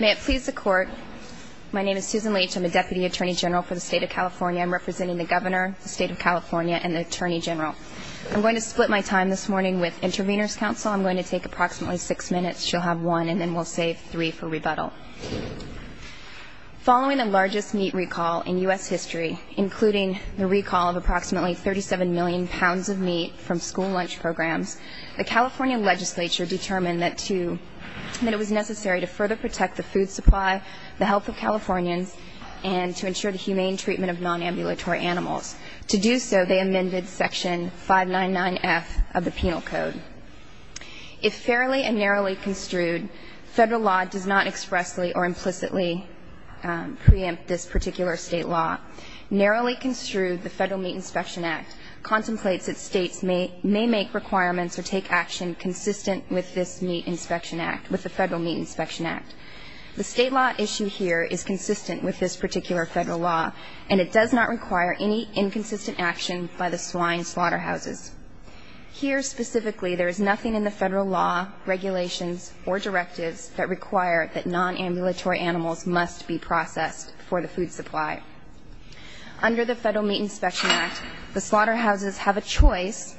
May it please the Court, my name is Susan Leach, I'm a Deputy Attorney General for the State of California. I'm representing the Governor, the State of California, and the Attorney General. I'm going to split my time this morning with Intervenors' Council. I'm going to take approximately six minutes. She'll have one, and then we'll save three for rebuttal. Following the largest meat recall in U.S. history, including the recall of approximately 37 million pounds of meat from school lunch programs, the California legislature determined that it was necessary to further protect the food supply, the health of Californians, and to ensure the humane treatment of non-ambulatory animals. To do so, they amended Section 599F of the Penal Code. If fairly and narrowly construed, federal law does not expressly or implicitly preempt this particular state law. Narrowly construed, the Federal Meat Inspection Act contemplates that states may make requirements or take action consistent with this meat inspection act, with the Federal Meat Inspection Act. The state law issue here is consistent with this particular federal law, and it does not require any inconsistent action by the swine slaughterhouses. Here, specifically, there is nothing in the federal law, regulations, or directives that require that non-ambulatory animals must be processed for the food supply. Under the Federal Meat Inspection Act, the slaughterhouses have a choice.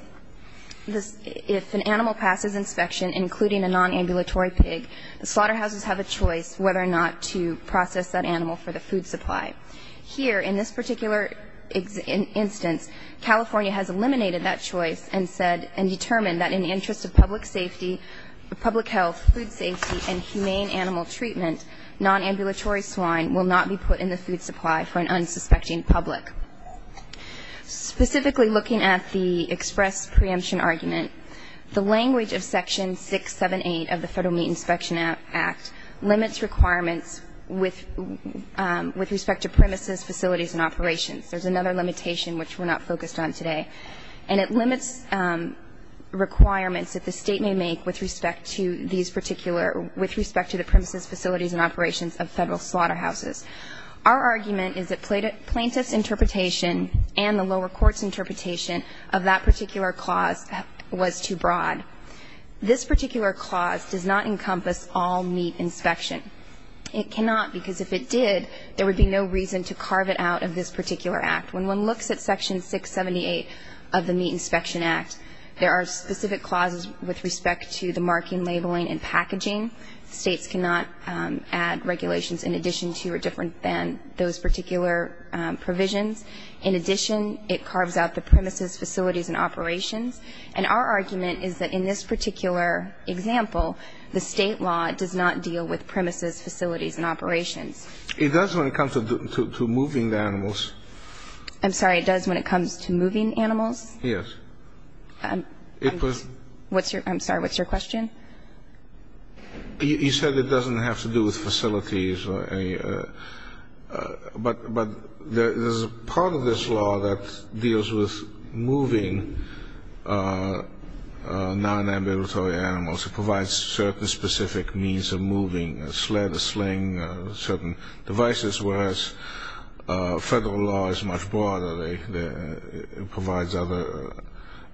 If an animal passes inspection, including a non-ambulatory pig, the slaughterhouses have a choice whether or not to process that animal for the food supply. Here, in this particular instance, California has eliminated that choice and said and determined that in the interest of public safety, public health, food safety, and humane animal treatment, non-ambulatory swine will not be put in the food supply for an unsuspecting public. Specifically, looking at the express preemption argument, the language of Section 678 of the Federal Meat Inspection Act limits requirements with respect to premises, facilities, and operations. There's another limitation which we're not focused on today. And it limits requirements that the State may make with respect to these particular with respect to the premises, facilities, and operations of federal slaughterhouses. Our argument is that plaintiff's interpretation and the lower court's interpretation of that particular clause was too broad. This particular clause does not encompass all meat inspection. It cannot, because if it did, there would be no reason to carve it out of this particular act. When one looks at Section 678 of the Meat Inspection Act, there are specific clauses with respect to the marking, labeling, and packaging. States cannot add regulations in addition to or different than those particular provisions. In addition, it carves out the premises, facilities, and operations. And our argument is that in this particular example, the State law does not deal with premises, facilities, and operations. It does when it comes to moving the animals. I'm sorry. It does when it comes to moving animals? Yes. I'm sorry. What's your question? You said it doesn't have to do with facilities. But there's a part of this law that deals with moving non-ambulatory animals. It provides certain specific means of moving a sled, a sling, certain devices, whereas Federal law is much broader. It provides other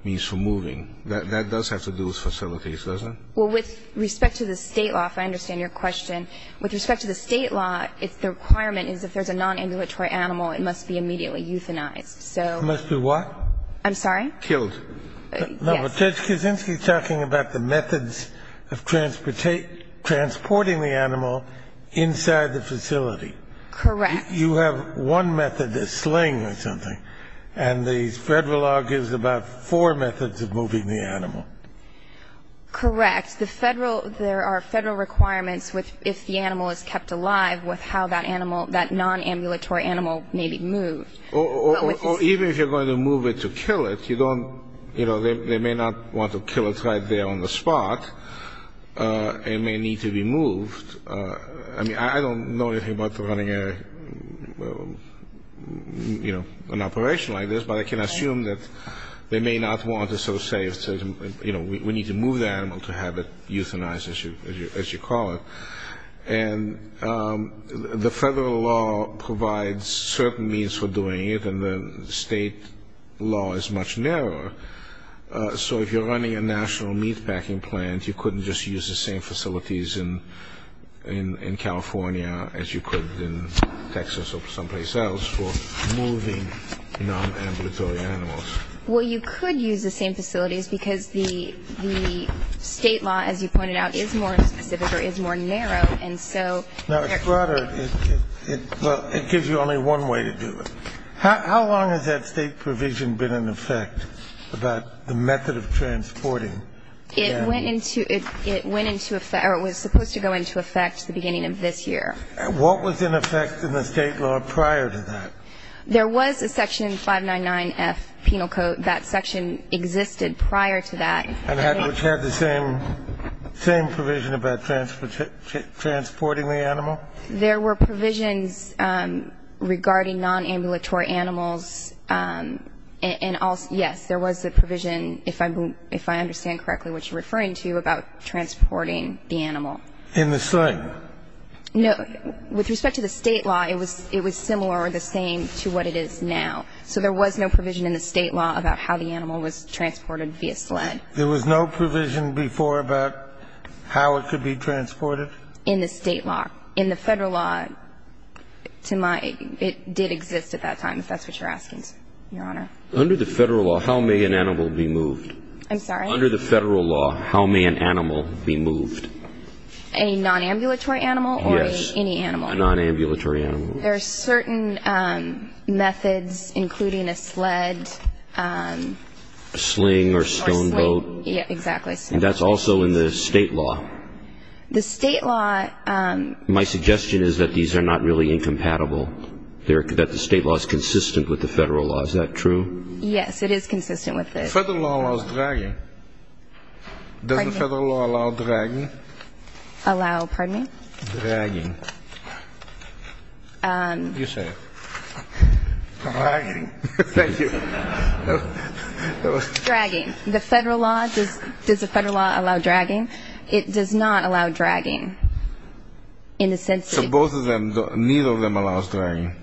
means for moving. That does have to do with facilities, doesn't it? Well, with respect to the State law, if I understand your question, with respect to the State law, it's the requirement is if there's a non-ambulatory animal, it must be immediately euthanized. It must be what? I'm sorry? Killed. No, but Judge Kuczynski is talking about the methods of transporting the animal inside the facility. Correct. You have one method, a sling or something. And the Federal law gives about four methods of moving the animal. Correct. The Federal, there are Federal requirements if the animal is kept alive with how that animal, that non-ambulatory animal may be moved. Or even if you're going to move it to kill it, you don't, you know, they may not want to kill it right there on the spot. It may need to be moved. I mean, I don't know anything about running a, you know, an operation like this, but I can assume that they may not want to sort of say, you know, we need to move the animal to have it euthanized, as you call it. And the Federal law provides certain means for doing it, and the state law is much narrower. So if you're running a national meatpacking plant, you couldn't just use the same facilities in California as you could in Texas or someplace else for moving non-ambulatory animals. Well, you could use the same facilities because the state law, as you pointed out, is more specific or is more narrow. And so they're going to do it. Now, Strutter, it gives you only one way to do it. How long has that state provision been in effect about the method of transporting? It went into effect, or it was supposed to go into effect the beginning of this year. What was in effect in the state law prior to that? There was a section 599F penal code. That section existed prior to that. And it had the same provision about transporting the animal? There were provisions regarding non-ambulatory animals. And, yes, there was a provision, if I understand correctly what you're referring to, about transporting the animal. In the sling? No. With respect to the state law, it was similar or the same to what it is now. So there was no provision in the state law about how the animal was transported via sled. There was no provision before about how it could be transported? In the state law. In the Federal law, to my ---- it did exist at that time, if that's what you're asking, Your Honor. Under the Federal law, how may an animal be moved? I'm sorry? Under the Federal law, how may an animal be moved? A non-ambulatory animal? Yes. Or any animal? A non-ambulatory animal. There are certain methods, including a sled. A sling or stone boat. Exactly. That's also in the state law. The state law ---- My suggestion is that these are not really incompatible. That the state law is consistent with the Federal law. Is that true? Yes, it is consistent with it. The Federal law allows dragging. Pardon me? Does the Federal law allow dragging? Allow, pardon me? Dragging. You say it. Dragging. Thank you. Dragging. The Federal law, does the Federal law allow dragging? It does not allow dragging. In the sense that ---- So both of them, neither of them allows dragging.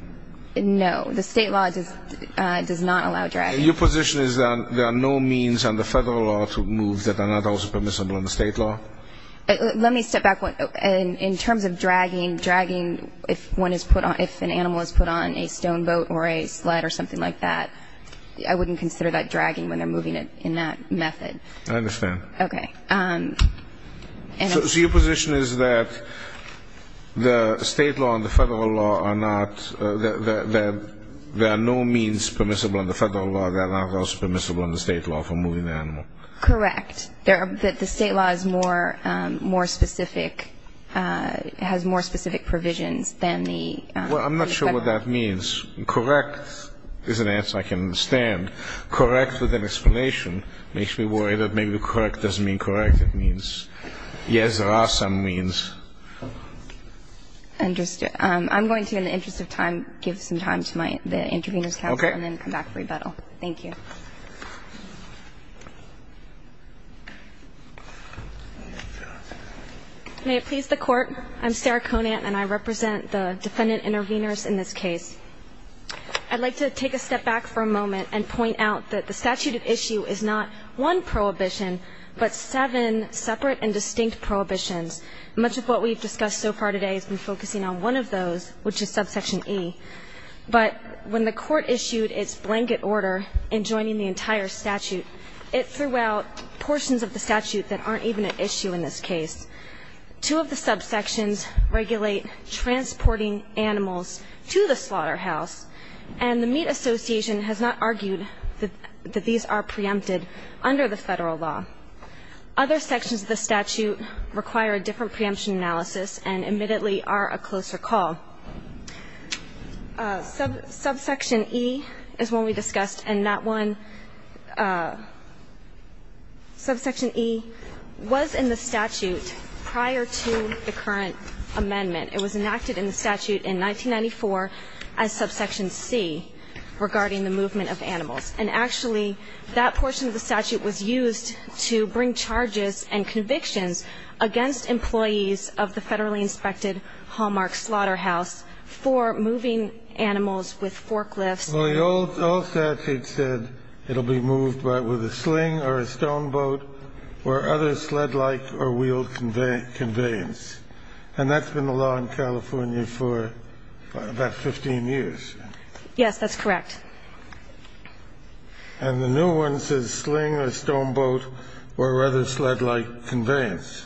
No. The state law does not allow dragging. Your position is that there are no means under Federal law to move that are not also permissible under state law? Let me step back. In terms of dragging, dragging if an animal is put on a stone boat or a sled or something like that, I wouldn't consider that dragging when they're moving it in that method. I understand. Okay. So your position is that the state law and the Federal law are not, there are no means permissible under Federal law that are not also permissible under state law for moving the animal? Correct. That the state law is more specific, has more specific provisions than the ---- Well, I'm not sure what that means. Correct is an answer I can understand. Correct with an explanation makes me worry that maybe correct doesn't mean correct. It means, yes, there are some means. I'm going to, in the interest of time, give some time to the intervener's counsel and then come back for rebuttal. Thank you. May it please the Court. I'm Sarah Conant, and I represent the defendant interveners in this case. I'd like to take a step back for a moment and point out that the statute of issue is not one prohibition, but seven separate and distinct prohibitions. Much of what we've discussed so far today has been focusing on one of those, which is subsection E. But when the Court issued its blanket order in joining the entire statute, it threw out portions of the statute that aren't even at issue in this case. Two of the subsections regulate transporting animals to the slaughterhouse, and the Meat Association has not argued that these are preempted under the Federal law. Other sections of the statute require a different preemption analysis and admittedly are a closer call. Subsection E is one we discussed, and that one, subsection E, was in the statute prior to the current amendment. It was enacted in the statute in 1994 as subsection C regarding the movement of animals. And actually, that portion of the statute was used to bring charges and convictions against employees of the federally inspected Hallmark Slaughterhouse for moving animals with forklifts. The old statute said it will be moved with a sling or a stone boat or other sled-like or wheeled conveyance. And that's been the law in California for about 15 years. Yes, that's correct. And the new one says sling or stone boat or other sled-like conveyance.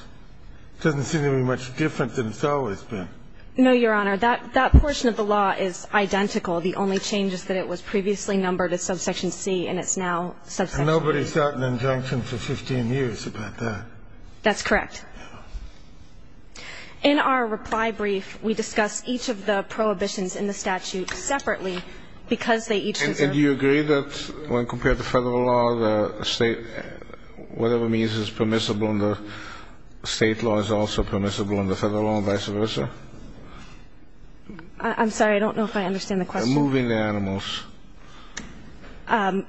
It doesn't seem to be much different than it's always been. No, Your Honor. That portion of the law is identical. The only change is that it was previously numbered as subsection C and it's now subsection E. And nobody's gotten an injunction for 15 years about that. That's correct. In our reply brief, we discuss each of the prohibitions in the statute separately And do you agree that when compared to federal law, whatever means is permissible in the state law is also permissible in the federal law and vice versa? I'm sorry, I don't know if I understand the question. Moving animals.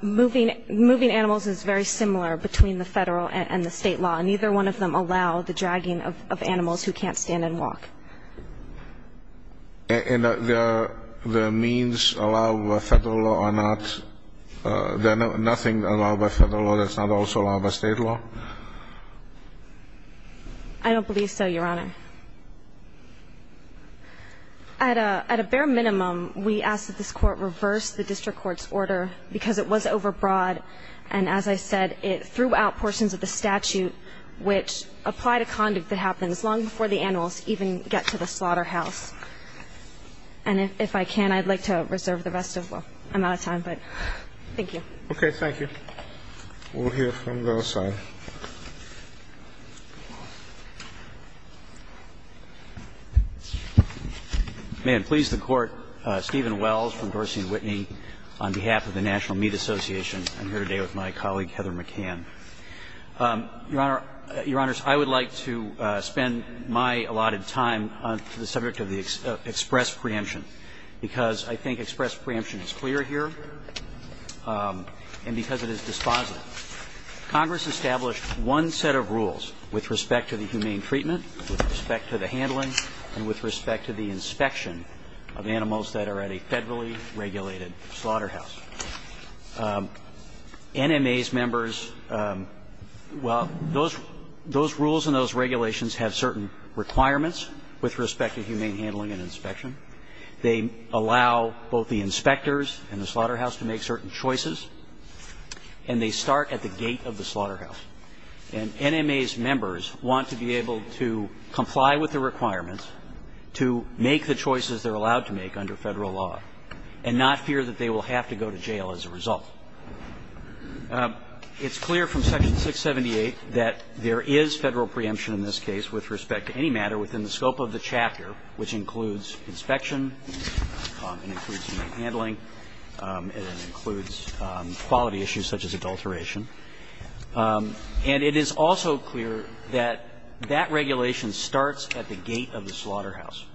Moving animals is very similar between the federal and the state law. Neither one of them allow the dragging of animals who can't stand and walk. And the means allowed by federal law are not? There's nothing allowed by federal law that's not also allowed by state law? I don't believe so, Your Honor. At a bare minimum, we ask that this Court reverse the district court's order because it was overbroad. And as I said, it threw out portions of the statute which apply to conduct that happens long before the animals, even get to the slaughterhouse. And if I can, I'd like to reserve the rest of my time, but thank you. Okay, thank you. We'll hear from the other side. May it please the Court, Stephen Wells from Dorsey & Whitney on behalf of the National Meat Association. I'm here today with my colleague, Heather McCann. Your Honor, I would like to spend my allotted time on the subject of the express preemption, because I think express preemption is clear here and because it is dispositive. Congress established one set of rules with respect to the humane treatment, with respect to the handling, and with respect to the inspection of animals that are at a federally regulated slaughterhouse. NMA's members, well, those rules and those regulations have certain requirements with respect to humane handling and inspection. They allow both the inspectors and the slaughterhouse to make certain choices, and they start at the gate of the slaughterhouse. And NMA's members want to be able to comply with the requirements to make the choices they're allowed to make under Federal law, and not fear that they will have to go to jail as a result. It's clear from Section 678 that there is Federal preemption in this case with respect to any matter within the scope of the chapter, which includes inspection, it includes humane handling, and it includes quality issues such as adulteration. And it is also clear that that regulation starts at the gate of the slaughterhouse.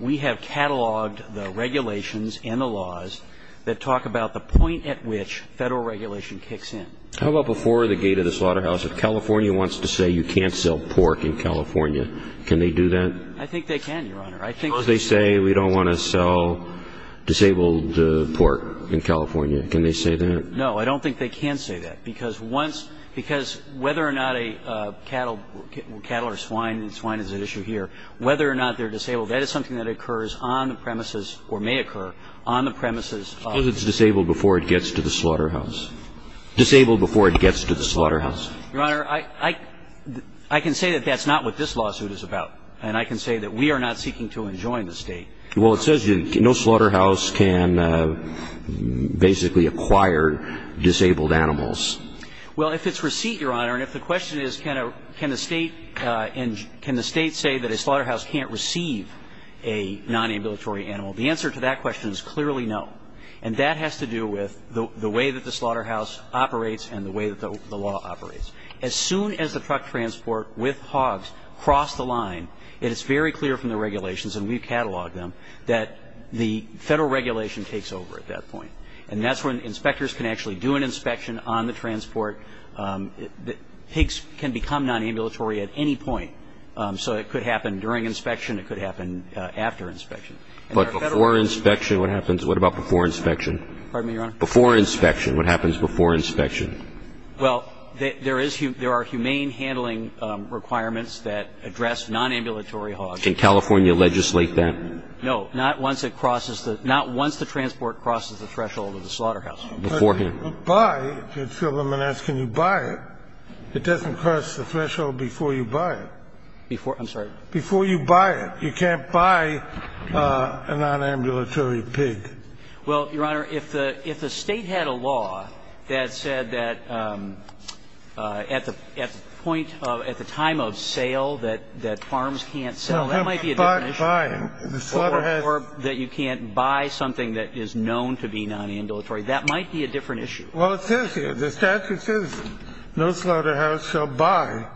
We have cataloged the regulations and the laws that talk about the point at which Federal regulation kicks in. How about before the gate of the slaughterhouse? If California wants to say you can't sell pork in California, can they do that? I think they can, Your Honor. I think they say we don't want to sell disabled pork in California. Can they say that? No, I don't think they can say that, because once ñ because whether or not a cattle or swine, and swine is an issue here, whether or not they're disabled, that is something that occurs on the premises or may occur on the premises of ñ Suppose it's disabled before it gets to the slaughterhouse. Disabled before it gets to the slaughterhouse. Your Honor, I can say that that's not what this lawsuit is about, and I can say that we are not seeking to enjoin the State. Well, it says no slaughterhouse can basically acquire disabled animals. Well, if it's receipt, Your Honor, and if the question is can the State say that a slaughterhouse can't receive a non-ambulatory animal, the answer to that question is clearly no. And that has to do with the way that the slaughterhouse operates and the way that the law operates. As soon as the truck transport with hogs cross the line, it is very clear from the regulations, and we've cataloged them, that the Federal regulation takes over at that point. And that's when inspectors can actually do an inspection on the transport. Pigs can become non-ambulatory at any point. So it could happen during inspection. It could happen after inspection. But before inspection, what happens? What about before inspection? Pardon me, Your Honor? Before inspection, what happens before inspection? Well, there is ñ there are humane handling requirements that address non-ambulatory hogs. Can California legislate that? No. Not once it crosses the ñ not once the transport crosses the threshold of the slaughterhouse. Before ñ But if you buy, if you tell them and ask can you buy it, it doesn't cross the threshold before you buy it. Before ñ I'm sorry? Before you buy it. You can't buy a non-ambulatory pig. Well, Your Honor, if the State had a law that said that at the point of ñ at the time of sale that farms can't sell, that might be a different issue. Well, it says here, the statute says no slaughterhouse shall buy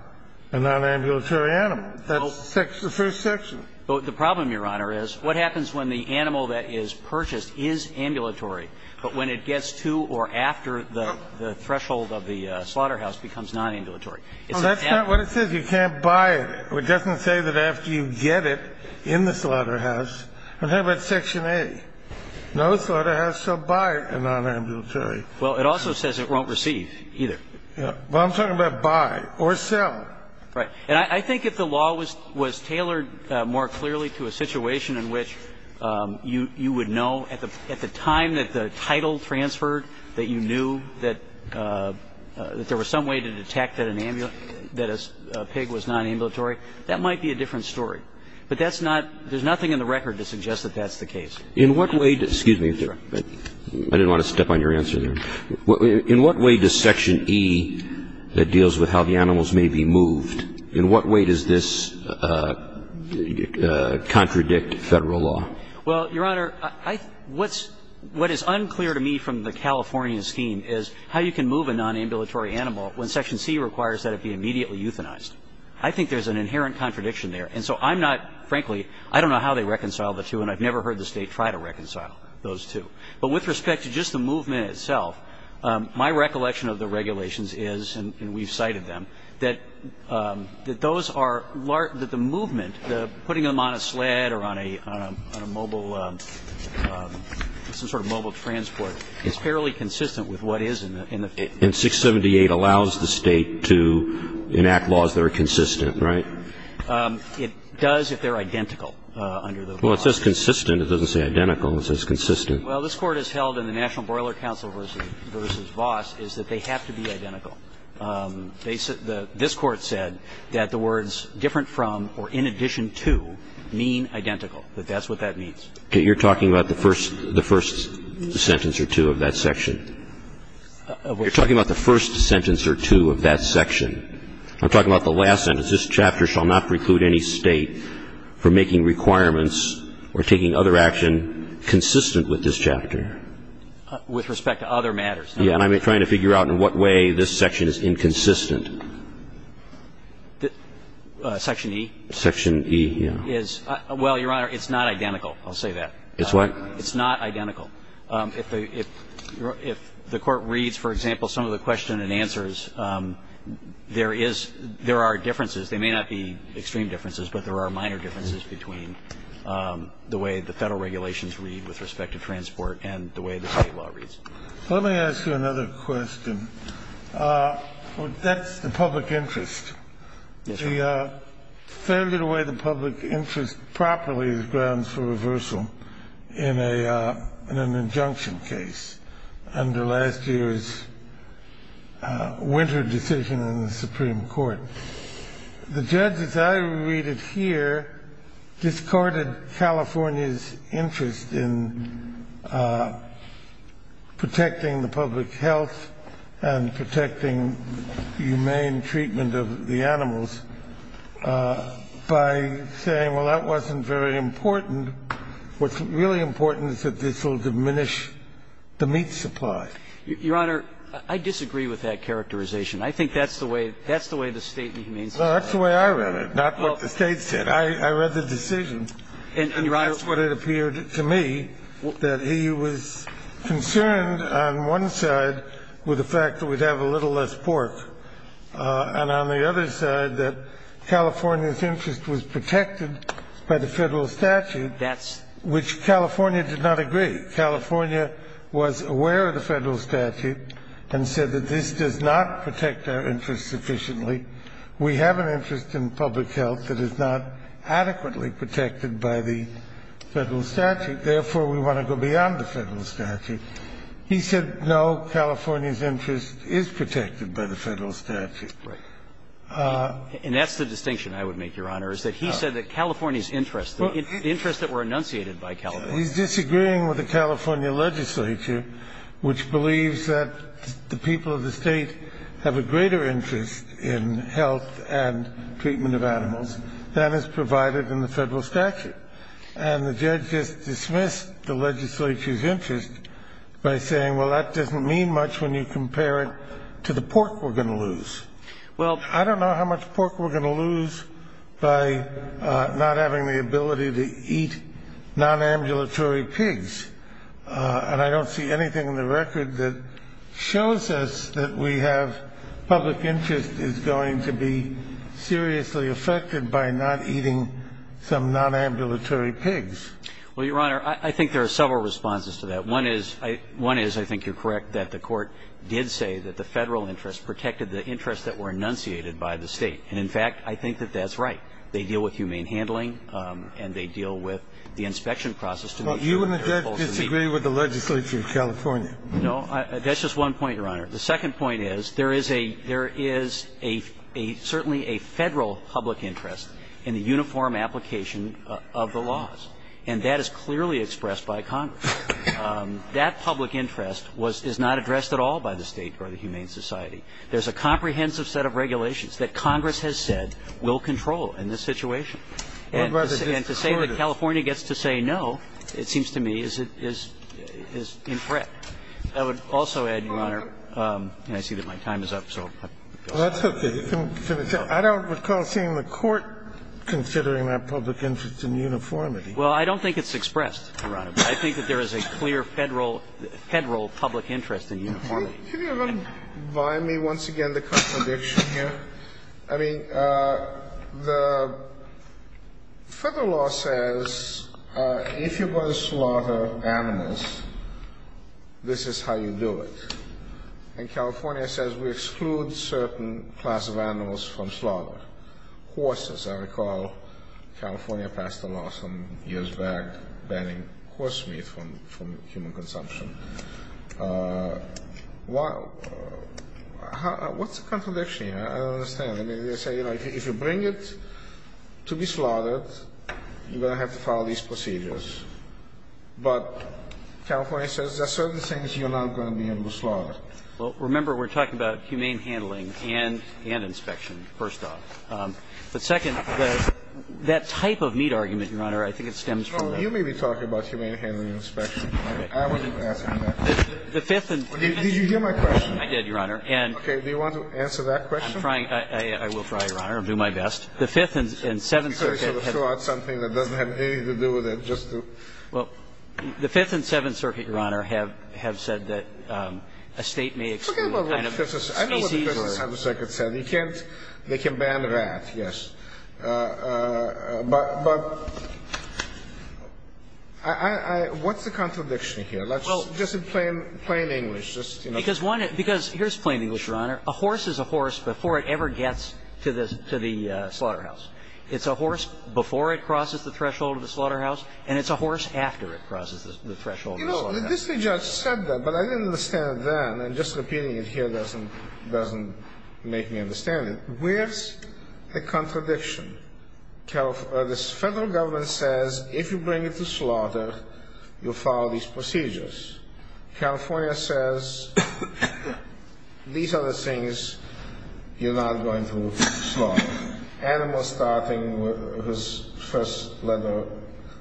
a non-ambulatory animal. That's the first section. The problem, Your Honor, is what happens when the animal that is purchased is ambulatory, but when it gets to or after the threshold of the slaughterhouse becomes non-ambulatory? Well, that's not what it says. You can't buy it. It doesn't say that after you get it in the slaughterhouse. I'm talking about Section A. No slaughterhouse shall buy a non-ambulatory. Well, it also says it won't receive either. Well, I'm talking about buy or sell. Right. And I think if the law was tailored more clearly to a situation in which you would know at the time that the title transferred that you knew that there was some way to detect that a pig was non-ambulatory, that might be a different story. But that's not – there's nothing in the record to suggest that that's the case. In what way – excuse me. I didn't want to step on your answer there. In what way does Section E that deals with how the animals may be moved, in what way does this contradict Federal law? Well, Your Honor, what is unclear to me from the California scheme is how you can move a non-ambulatory animal when Section C requires that it be immediately euthanized. I think there's an inherent contradiction there. And so I'm not – frankly, I don't know how they reconcile the two, and I've never heard the State try to reconcile those two. But with respect to just the movement itself, my recollection of the regulations is, and we've cited them, that those are – that the movement, putting them on a sled or on a – on a mobile – some sort of mobile transport is fairly consistent with what is in the – And 678 allows the State to enact laws that are consistent, right? It does if they're identical under the law. Well, it says consistent. It doesn't say identical. It says consistent. Well, this Court has held in the National Broiler Council v. Voss is that they have to be identical. This Court said that the words different from or in addition to mean identical, that that's what that means. Okay. You're talking about the first – the first sentence or two of that section? You're talking about the first sentence or two of that section. I'm talking about the last sentence. This chapter shall not preclude any State from making requirements or taking other action consistent with this chapter. With respect to other matters. And I'm trying to figure out in what way this section is inconsistent. Section E? Section E, yeah. Well, Your Honor, it's not identical. I'll say that. It's what? It's not identical. If the – if the Court reads, for example, some of the question and answers, there is – there are differences. They may not be extreme differences, but there are minor differences between the way the Federal regulations read with respect to transport and the way the State law reads. Let me ask you another question. That's the public interest. Yes, Your Honor. The failure to weigh the public interest properly is grounds for reversal in a – in an injunction case under last year's winter decision in the Supreme Court. The judges I read it here discarded California's interest in protecting the public health and protecting humane treatment of the animals by saying, well, that wasn't very important. What's really important is that this will diminish the meat supply. Your Honor, I disagree with that characterization. I think that's the way – that's the way the State and humane society read it. No, that's the way I read it, not what the State said. I read the decision, and that's what it appeared to me, that he was concerned on one side with the fact that we'd have a little less pork, and on the other side that California's interest was protected by the Federal statute, which California did not agree. California was aware of the Federal statute and said that this does not protect our interest sufficiently. We have an interest in public health that is not adequately protected by the Federal statute. Therefore, we want to go beyond the Federal statute. He said, no, California's interest is protected by the Federal statute. Right. And that's the distinction I would make, Your Honor, is that he said that California's interest, the interests that were enunciated by California. He's disagreeing with the California legislature, which believes that the people of the State have a greater interest in health and treatment of animals than is provided in the Federal statute. And the judge just dismissed the legislature's interest by saying, well, that doesn't mean much when you compare it to the pork we're going to lose. Well, I don't know how much pork we're going to lose by not having the ability to eat nonambulatory pigs. And I don't see anything in the record that shows us that we have public interest is going to be seriously affected by not eating some nonambulatory pigs. Well, Your Honor, I think there are several responses to that. One is I think you're correct that the Court did say that the Federal interest protected the interests that were enunciated by the State. And, in fact, I think that that's right. They deal with humane handling, and they deal with the inspection process to make sure that they're able to meet the requirements. But you and the judge disagree with the legislature in California. No. That's just one point, Your Honor. The second point is there is a – there is a – certainly a Federal public interest in the uniform application of the laws. And that is clearly expressed by Congress. That public interest was – is not addressed at all by the State or the Humane Society. There's a comprehensive set of regulations that Congress has said will control in this situation. And to say that California gets to say no, it seems to me, is – is in threat. I would also add, Your Honor – and I see that my time is up, so I'll stop. That's okay. I don't recall seeing the Court considering that public interest in uniformity. Well, I don't think it's expressed, Your Honor. But I think that there is a clear Federal – Federal public interest in uniformity. Can you remind me once again the contradiction here? I mean, the Federal law says if you're going to slaughter animals, this is how you do it. And California says we exclude certain class of animals from slaughter. Horses, I recall California passed a law some years back banning horse meat from human consumption. What's the contradiction here? I don't understand. I mean, they say, like, if you bring it to be slaughtered, you're going to have to follow these procedures. But California says there are certain things you're not going to be able to slaughter. Well, remember, we're talking about humane handling and – and inspection, first off. But second, the – that type of meat argument, Your Honor, I think it stems from that. So you may be talking about humane handling and inspection. I wasn't asking that. The Fifth and – Did you hear my question? I did, Your Honor. And – Okay. Do you want to answer that question? I'm trying. I will try, Your Honor. I'll do my best. The Fifth and Seventh Circuit have – Let me sort of throw out something that doesn't have anything to do with it, just to – Well, the Fifth and Seventh Circuit, Your Honor, have – have said that a State may exclude kind of species or – Forget about what the Fifth and Seventh Circuit said. I know what the Fifth and Seventh Circuit said. You can't – they can ban rats, yes. But – but I – I – what's the contradiction here? Well – Just in plain – plain English. Just, you know – Because one – because here's plain English, Your Honor. A horse is a horse before it ever gets to the – to the slaughterhouse. It's a horse before it crosses the threshold of the slaughterhouse, and it's a horse after it crosses the threshold of the slaughterhouse. You know, the district judge said that, but I didn't understand then. And just repeating it here doesn't – doesn't make me understand it. Where's the contradiction? The Federal Government says, if you bring it to slaughter, you'll follow these procedures. California says, these are the things you're not going to slaughter. Animals starting with – whose first letter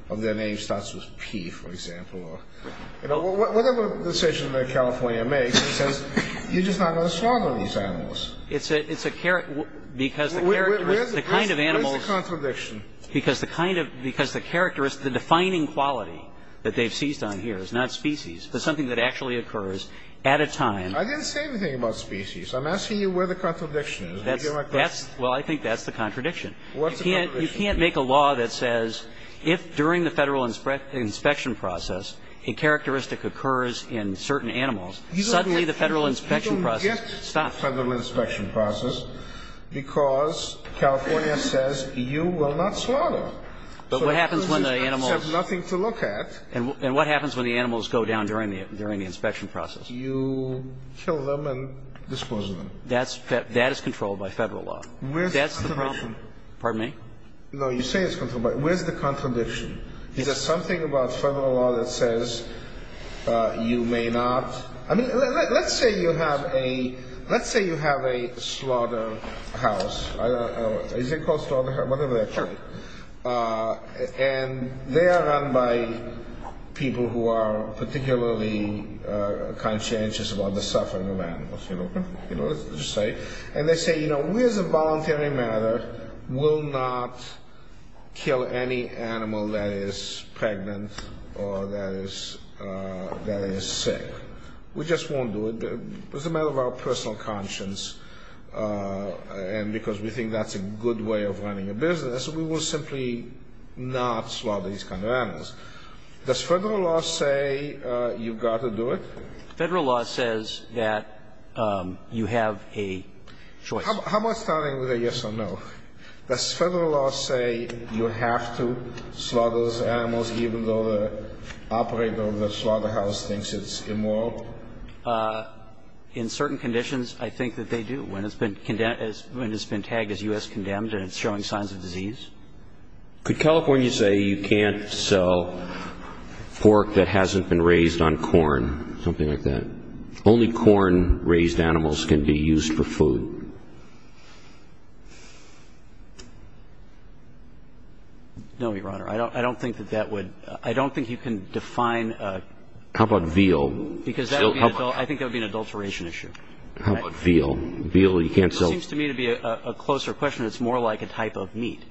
of their name starts with P, for example, or – you know, whatever decision that California makes, it says, you're just not going to slaughter these animals. It's a – it's a – because the kind of animals – Where's the – where's the contradiction? Because the kind of – because the characteristic – the defining quality that they've seized on here is not species, but something that actually occurs at a time. I didn't say anything about species. I'm asking you where the contradiction is. That's – that's – well, I think that's the contradiction. What's the contradiction? You can't – you can't make a law that says, if during the Federal inspection process, a characteristic occurs in certain animals, suddenly the Federal inspection process stops. Because California says, you will not slaughter. But what happens when the animals – You have nothing to look at. And what happens when the animals go down during the – during the inspection process? You kill them and dispose of them. That's – that is controlled by Federal law. Where's the contradiction? That's the problem. Pardon me? No, you say it's controlled by – where's the contradiction? Is there something about Federal law that says, you may not – I mean, let's say you have a – let's say you have a slaughterhouse. Is it called slaughterhouse? Whatever that is. And they are run by people who are particularly conscientious about the suffering of animals. You know what I'm saying? And they say, you know, we as a voluntary matter will not kill any animal that is pregnant or that is sick. We just won't do it. It's a matter of our personal conscience. And because we think that's a good way of running a business, we will simply not slaughter these kind of animals. Does Federal law say you've got to do it? Federal law says that you have a choice. How about starting with a yes or no? Does Federal law say you have to slaughter those animals even though the operator of the slaughterhouse thinks it's immoral? In certain conditions, I think that they do. When it's been tagged as U.S. condemned and it's showing signs of disease. Could California say you can't sell pork that hasn't been raised on corn, something like that? Only corn-raised animals can be used for food. No, Your Honor. I don't think that that would – I don't think you can define a – How about veal? Because that would be – I think that would be an adulteration issue. How about veal? Veal, you can't sell – This seems to me to be a closer question. It's more like a type of meat.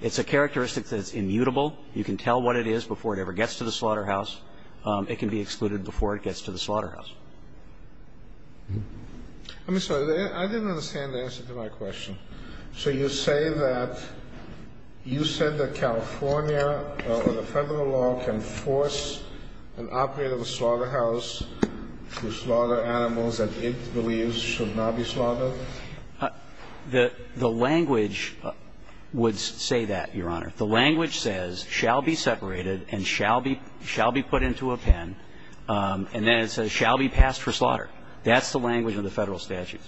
It's a characteristic that's immutable. You can tell what it is before it ever gets to the slaughterhouse. It can be excluded before it gets to the slaughterhouse. I'm sorry. I didn't understand the answer to my question. So you say that – you said that California or the Federal law can force an operator of a slaughterhouse to slaughter animals that it believes should not be slaughtered? The language would say that, Your Honor. The language says shall be separated and shall be put into a pen. And then it says shall be passed for slaughter. That's the language of the Federal statutes.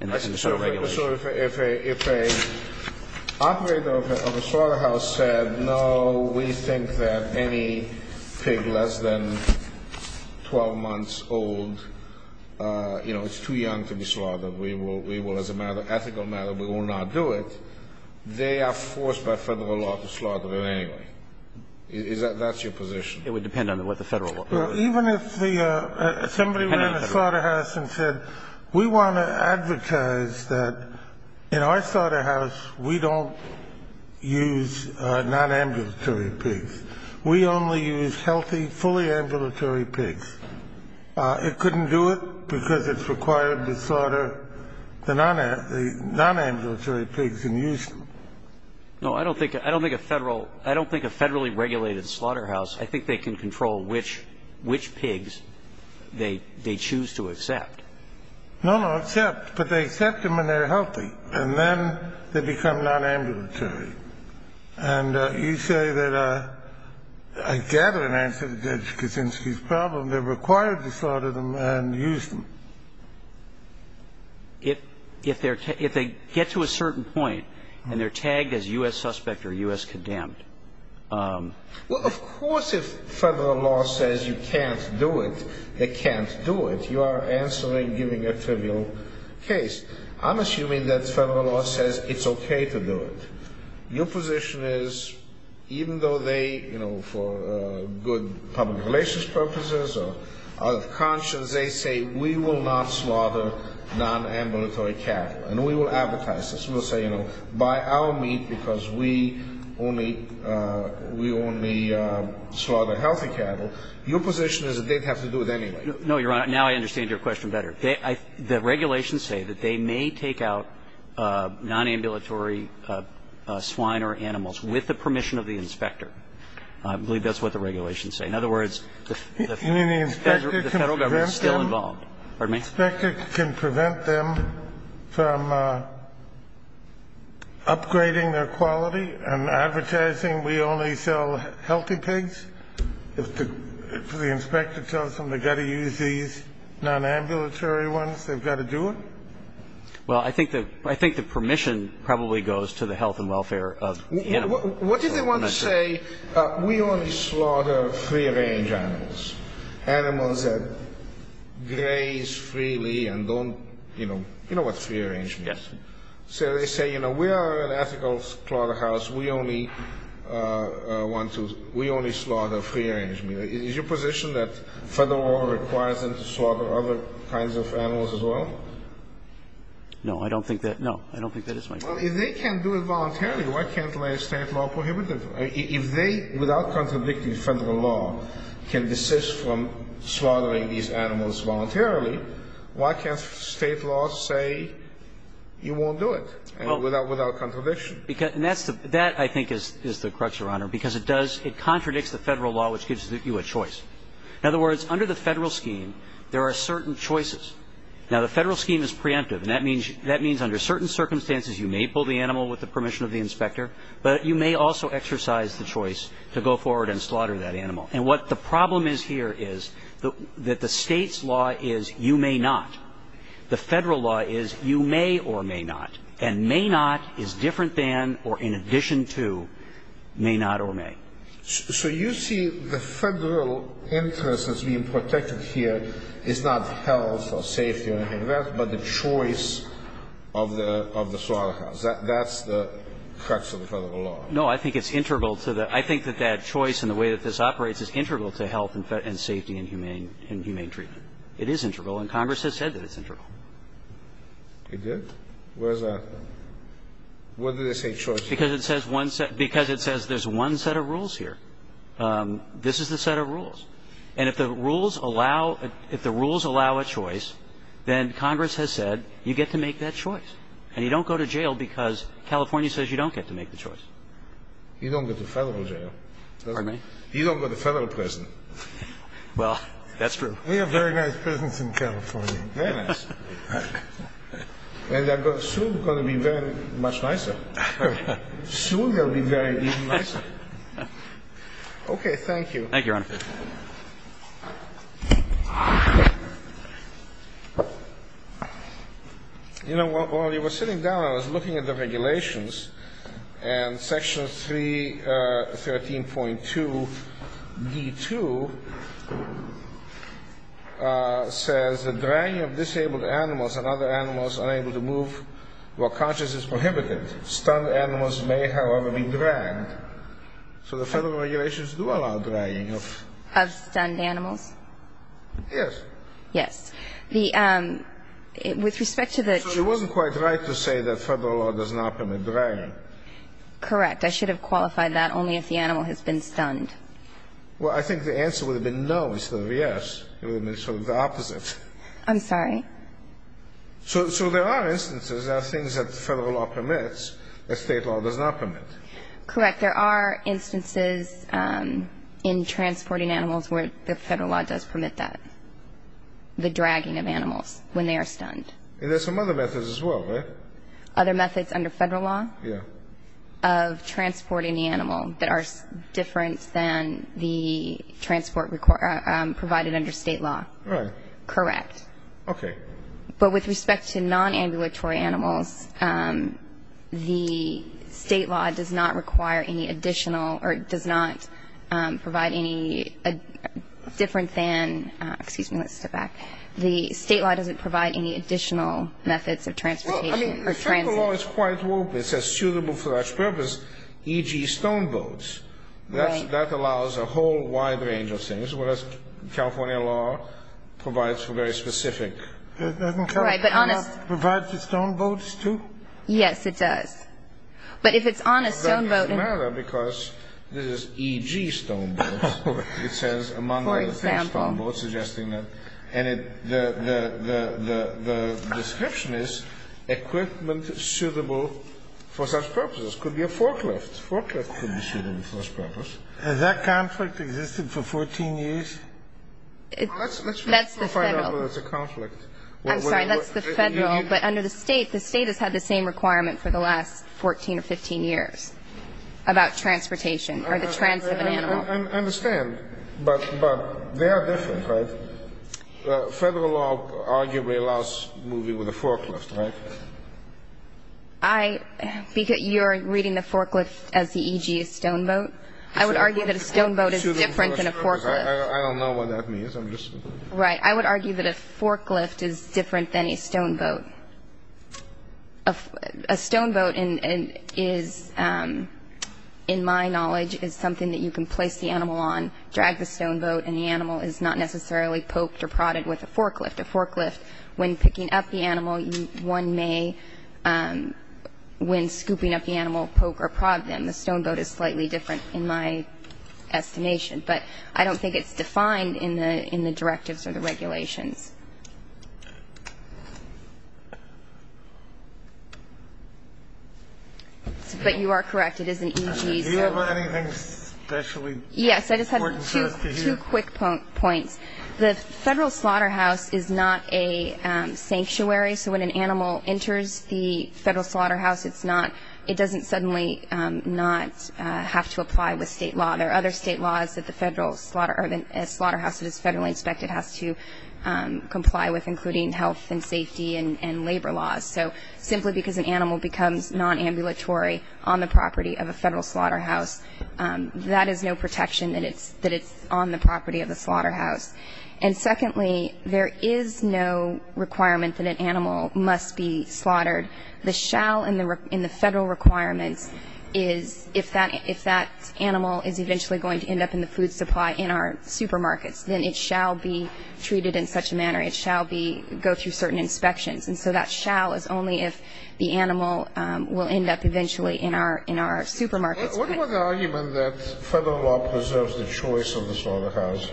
So if an operator of a slaughterhouse said, no, we think that any pig less than 12 months old, you know, is too young to be slaughtered, we will, as a matter of ethical matter, we will not do it, they are forced by Federal law to slaughter them anyway. That's your position? It would depend on what the Federal law says. Well, even if somebody ran a slaughterhouse and said, we want to advertise that in our slaughterhouse we don't use non-ambulatory pigs. We only use healthy, fully ambulatory pigs. It couldn't do it because it's required to slaughter the non-ambulatory pigs and use them. No, I don't think a Federal – I don't think a Federally regulated slaughterhouse, I think they can control which pigs they choose to accept. No, no. Accept. But they accept them and they're healthy. And then they become non-ambulatory. And you say that I gather in answer to Judge Kaczynski's problem they're required to slaughter them and use them. If they get to a certain point and they're tagged as U.S. suspect or U.S. condemned Well, of course if Federal law says you can't do it, they can't do it. You are answering, giving a trivial case. I'm assuming that Federal law says it's okay to do it. Your position is even though they, you know, for good public relations purposes or out of conscience, they say we will not slaughter non-ambulatory cattle and we will advertise this. We'll say, you know, buy our meat because we only slaughter healthy cattle. Your position is that they'd have to do it anyway. No, Your Honor. Now I understand your question better. The regulations say that they may take out non-ambulatory swine or animals with the permission of the inspector. I believe that's what the regulations say. In other words, the Federal government is still involved. The inspector can prevent them from upgrading their quality and advertising we only sell healthy pigs? If the inspector tells them they've got to use these non-ambulatory ones, they've got to do it? Well, I think the permission probably goes to the health and welfare of the animal. What if they want to say we only slaughter free-range animals, animals that graze freely and don't, you know, you know what free-range means. Yes. So they say, you know, we are an ethical slaughterhouse. We only want to – we only slaughter free-range meat. Is your position that Federal law requires them to slaughter other kinds of animals as well? No, I don't think that – no, I don't think that is my position. Well, if they can do it voluntarily, why can't they stay at law prohibitive? If they, without contradicting Federal law, can desist from slaughtering these animals voluntarily, why can't State law say you won't do it without contradiction? That, I think, is the crux, Your Honor, because it does – it contradicts the Federal law, which gives you a choice. In other words, under the Federal scheme, there are certain choices. Now, the Federal scheme is preemptive, and that means under certain circumstances you may pull the animal with the permission of the inspector, but you may also exercise the choice to go forward and slaughter that animal. And what the problem is here is that the State's law is you may not. The Federal law is you may or may not. And may not is different than or in addition to may not or may. So you see the Federal interest as being protected here is not health or safety or anything like that, but the choice of the slaughterhouse. That's the crux of the Federal law. No. I think it's integral to the – I think that that choice and the way that this operates is integral to health and safety and humane treatment. It is integral, and Congress has said that it's integral. It did? Where is that? Why do they say choice? Because it says one – because it says there's one set of rules here. This is the set of rules. And if the rules allow – if the rules allow a choice, then Congress has said you get to make that choice. And you don't go to jail because California says you don't get to make the choice. You don't go to Federal jail. Pardon me? You don't go to Federal prison. Well, that's true. We have very nice prisons in California. Very nice. And they're soon going to be very much nicer. Soon they'll be very even nicer. Okay. Thank you. Thank you, Your Honor. You know, while you were sitting down, I was looking at the regulations, and Section 313.2d.2 says that dragging of disabled animals and other animals unable to move while conscious is prohibited. Stunned animals may, however, be dragged. Of stunned animals? Yes. Yes. With respect to the – So it wasn't quite right to say that Federal law does not permit dragging. Correct. I should have qualified that only if the animal has been stunned. Well, I think the answer would have been no instead of yes. It would have been sort of the opposite. I'm sorry? So there are instances, there are things that Federal law permits that State law does not permit. Correct. But there are instances in transporting animals where the Federal law does permit that, the dragging of animals when they are stunned. And there are some other methods as well, right? Other methods under Federal law? Yeah. Of transporting the animal that are different than the transport provided under State law. Right. Correct. Okay. But with respect to non-ambulatory animals, the State law does not require any additional or does not provide any different than – excuse me, let's step back. The State law doesn't provide any additional methods of transportation or transit. Well, I mean, Federal law is quite open. It says suitable for that purpose, e.g., stone boats. Right. That allows a whole wide range of things, as well as California law provides for very specific. It doesn't provide for stone boats, too? Yes, it does. But if it's on a stone boat. It doesn't matter because this is E.G. stone boats. It says among other things stone boats, suggesting that. And the description is equipment suitable for such purposes. It could be a forklift. A forklift could be suitable for such purposes. Has that conflict existed for 14 years? That's the Federal. I'm sorry, that's the Federal. But under the State, the State has had the same requirement for the last 14 or 15 years about transportation or the transit of an animal. I understand. But they are different, right? Federal law arguably allows moving with a forklift, right? You're reading the forklift as the E.G. stone boat? I would argue that a stone boat is different than a forklift. I don't know what that means. Right. I would argue that a forklift is different than a stone boat. A stone boat is, in my knowledge, is something that you can place the animal on, drag the stone boat, and the animal is not necessarily poked or prodded with a forklift. A forklift, when picking up the animal, one may, when scooping up the animal, poke or prod them. The stone boat is slightly different in my estimation. But I don't think it's defined in the directives or the regulations. But you are correct. It is an E.G. stone boat. Do you have anything specially important for us to hear? Yes. I just have two quick points. The Federal slaughterhouse is not a sanctuary. So when an animal enters the Federal slaughterhouse, it doesn't suddenly not have to apply with state law. There are other state laws that a slaughterhouse that is federally inspected has to comply with, including health and safety and labor laws. So simply because an animal becomes nonambulatory on the property of a Federal slaughterhouse, that is no protection that it's on the property of the slaughterhouse. And secondly, there is no requirement that an animal must be slaughtered. The shall in the Federal requirements is if that animal is eventually going to end up in the food supply in our supermarkets, then it shall be treated in such a manner. It shall go through certain inspections. And so that shall is only if the animal will end up eventually in our supermarkets. What about the argument that Federal law preserves the choice of the slaughterhouse,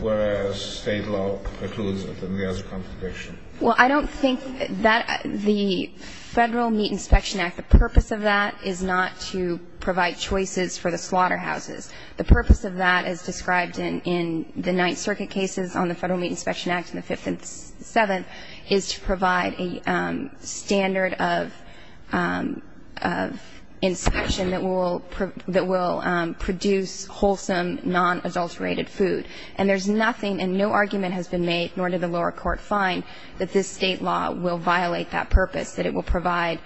whereas state law precludes it and there is a contradiction? Well, I don't think that the Federal Meat Inspection Act, the purpose of that is not to provide choices for the slaughterhouses. The purpose of that, as described in the Ninth Circuit cases on the Federal Meat Inspection Act and the Fifth and Seventh, is to provide a standard of inspection that will produce wholesome, non-adulterated food. And there's nothing and no argument has been made, nor did the lower court find, that this state law will violate that purpose, that it will provide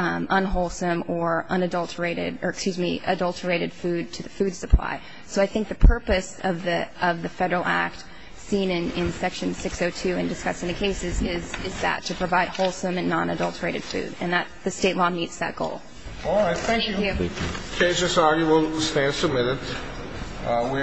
unwholesome or unadulterated, or excuse me, adulterated food to the food supply. So I think the purpose of the Federal Act, seen in Section 602 and discussed in the cases, is that, to provide wholesome and non-adulterated food. And the state law meets that goal. All right. Thank you. The case is argued and will stand submitted. We are adjourned.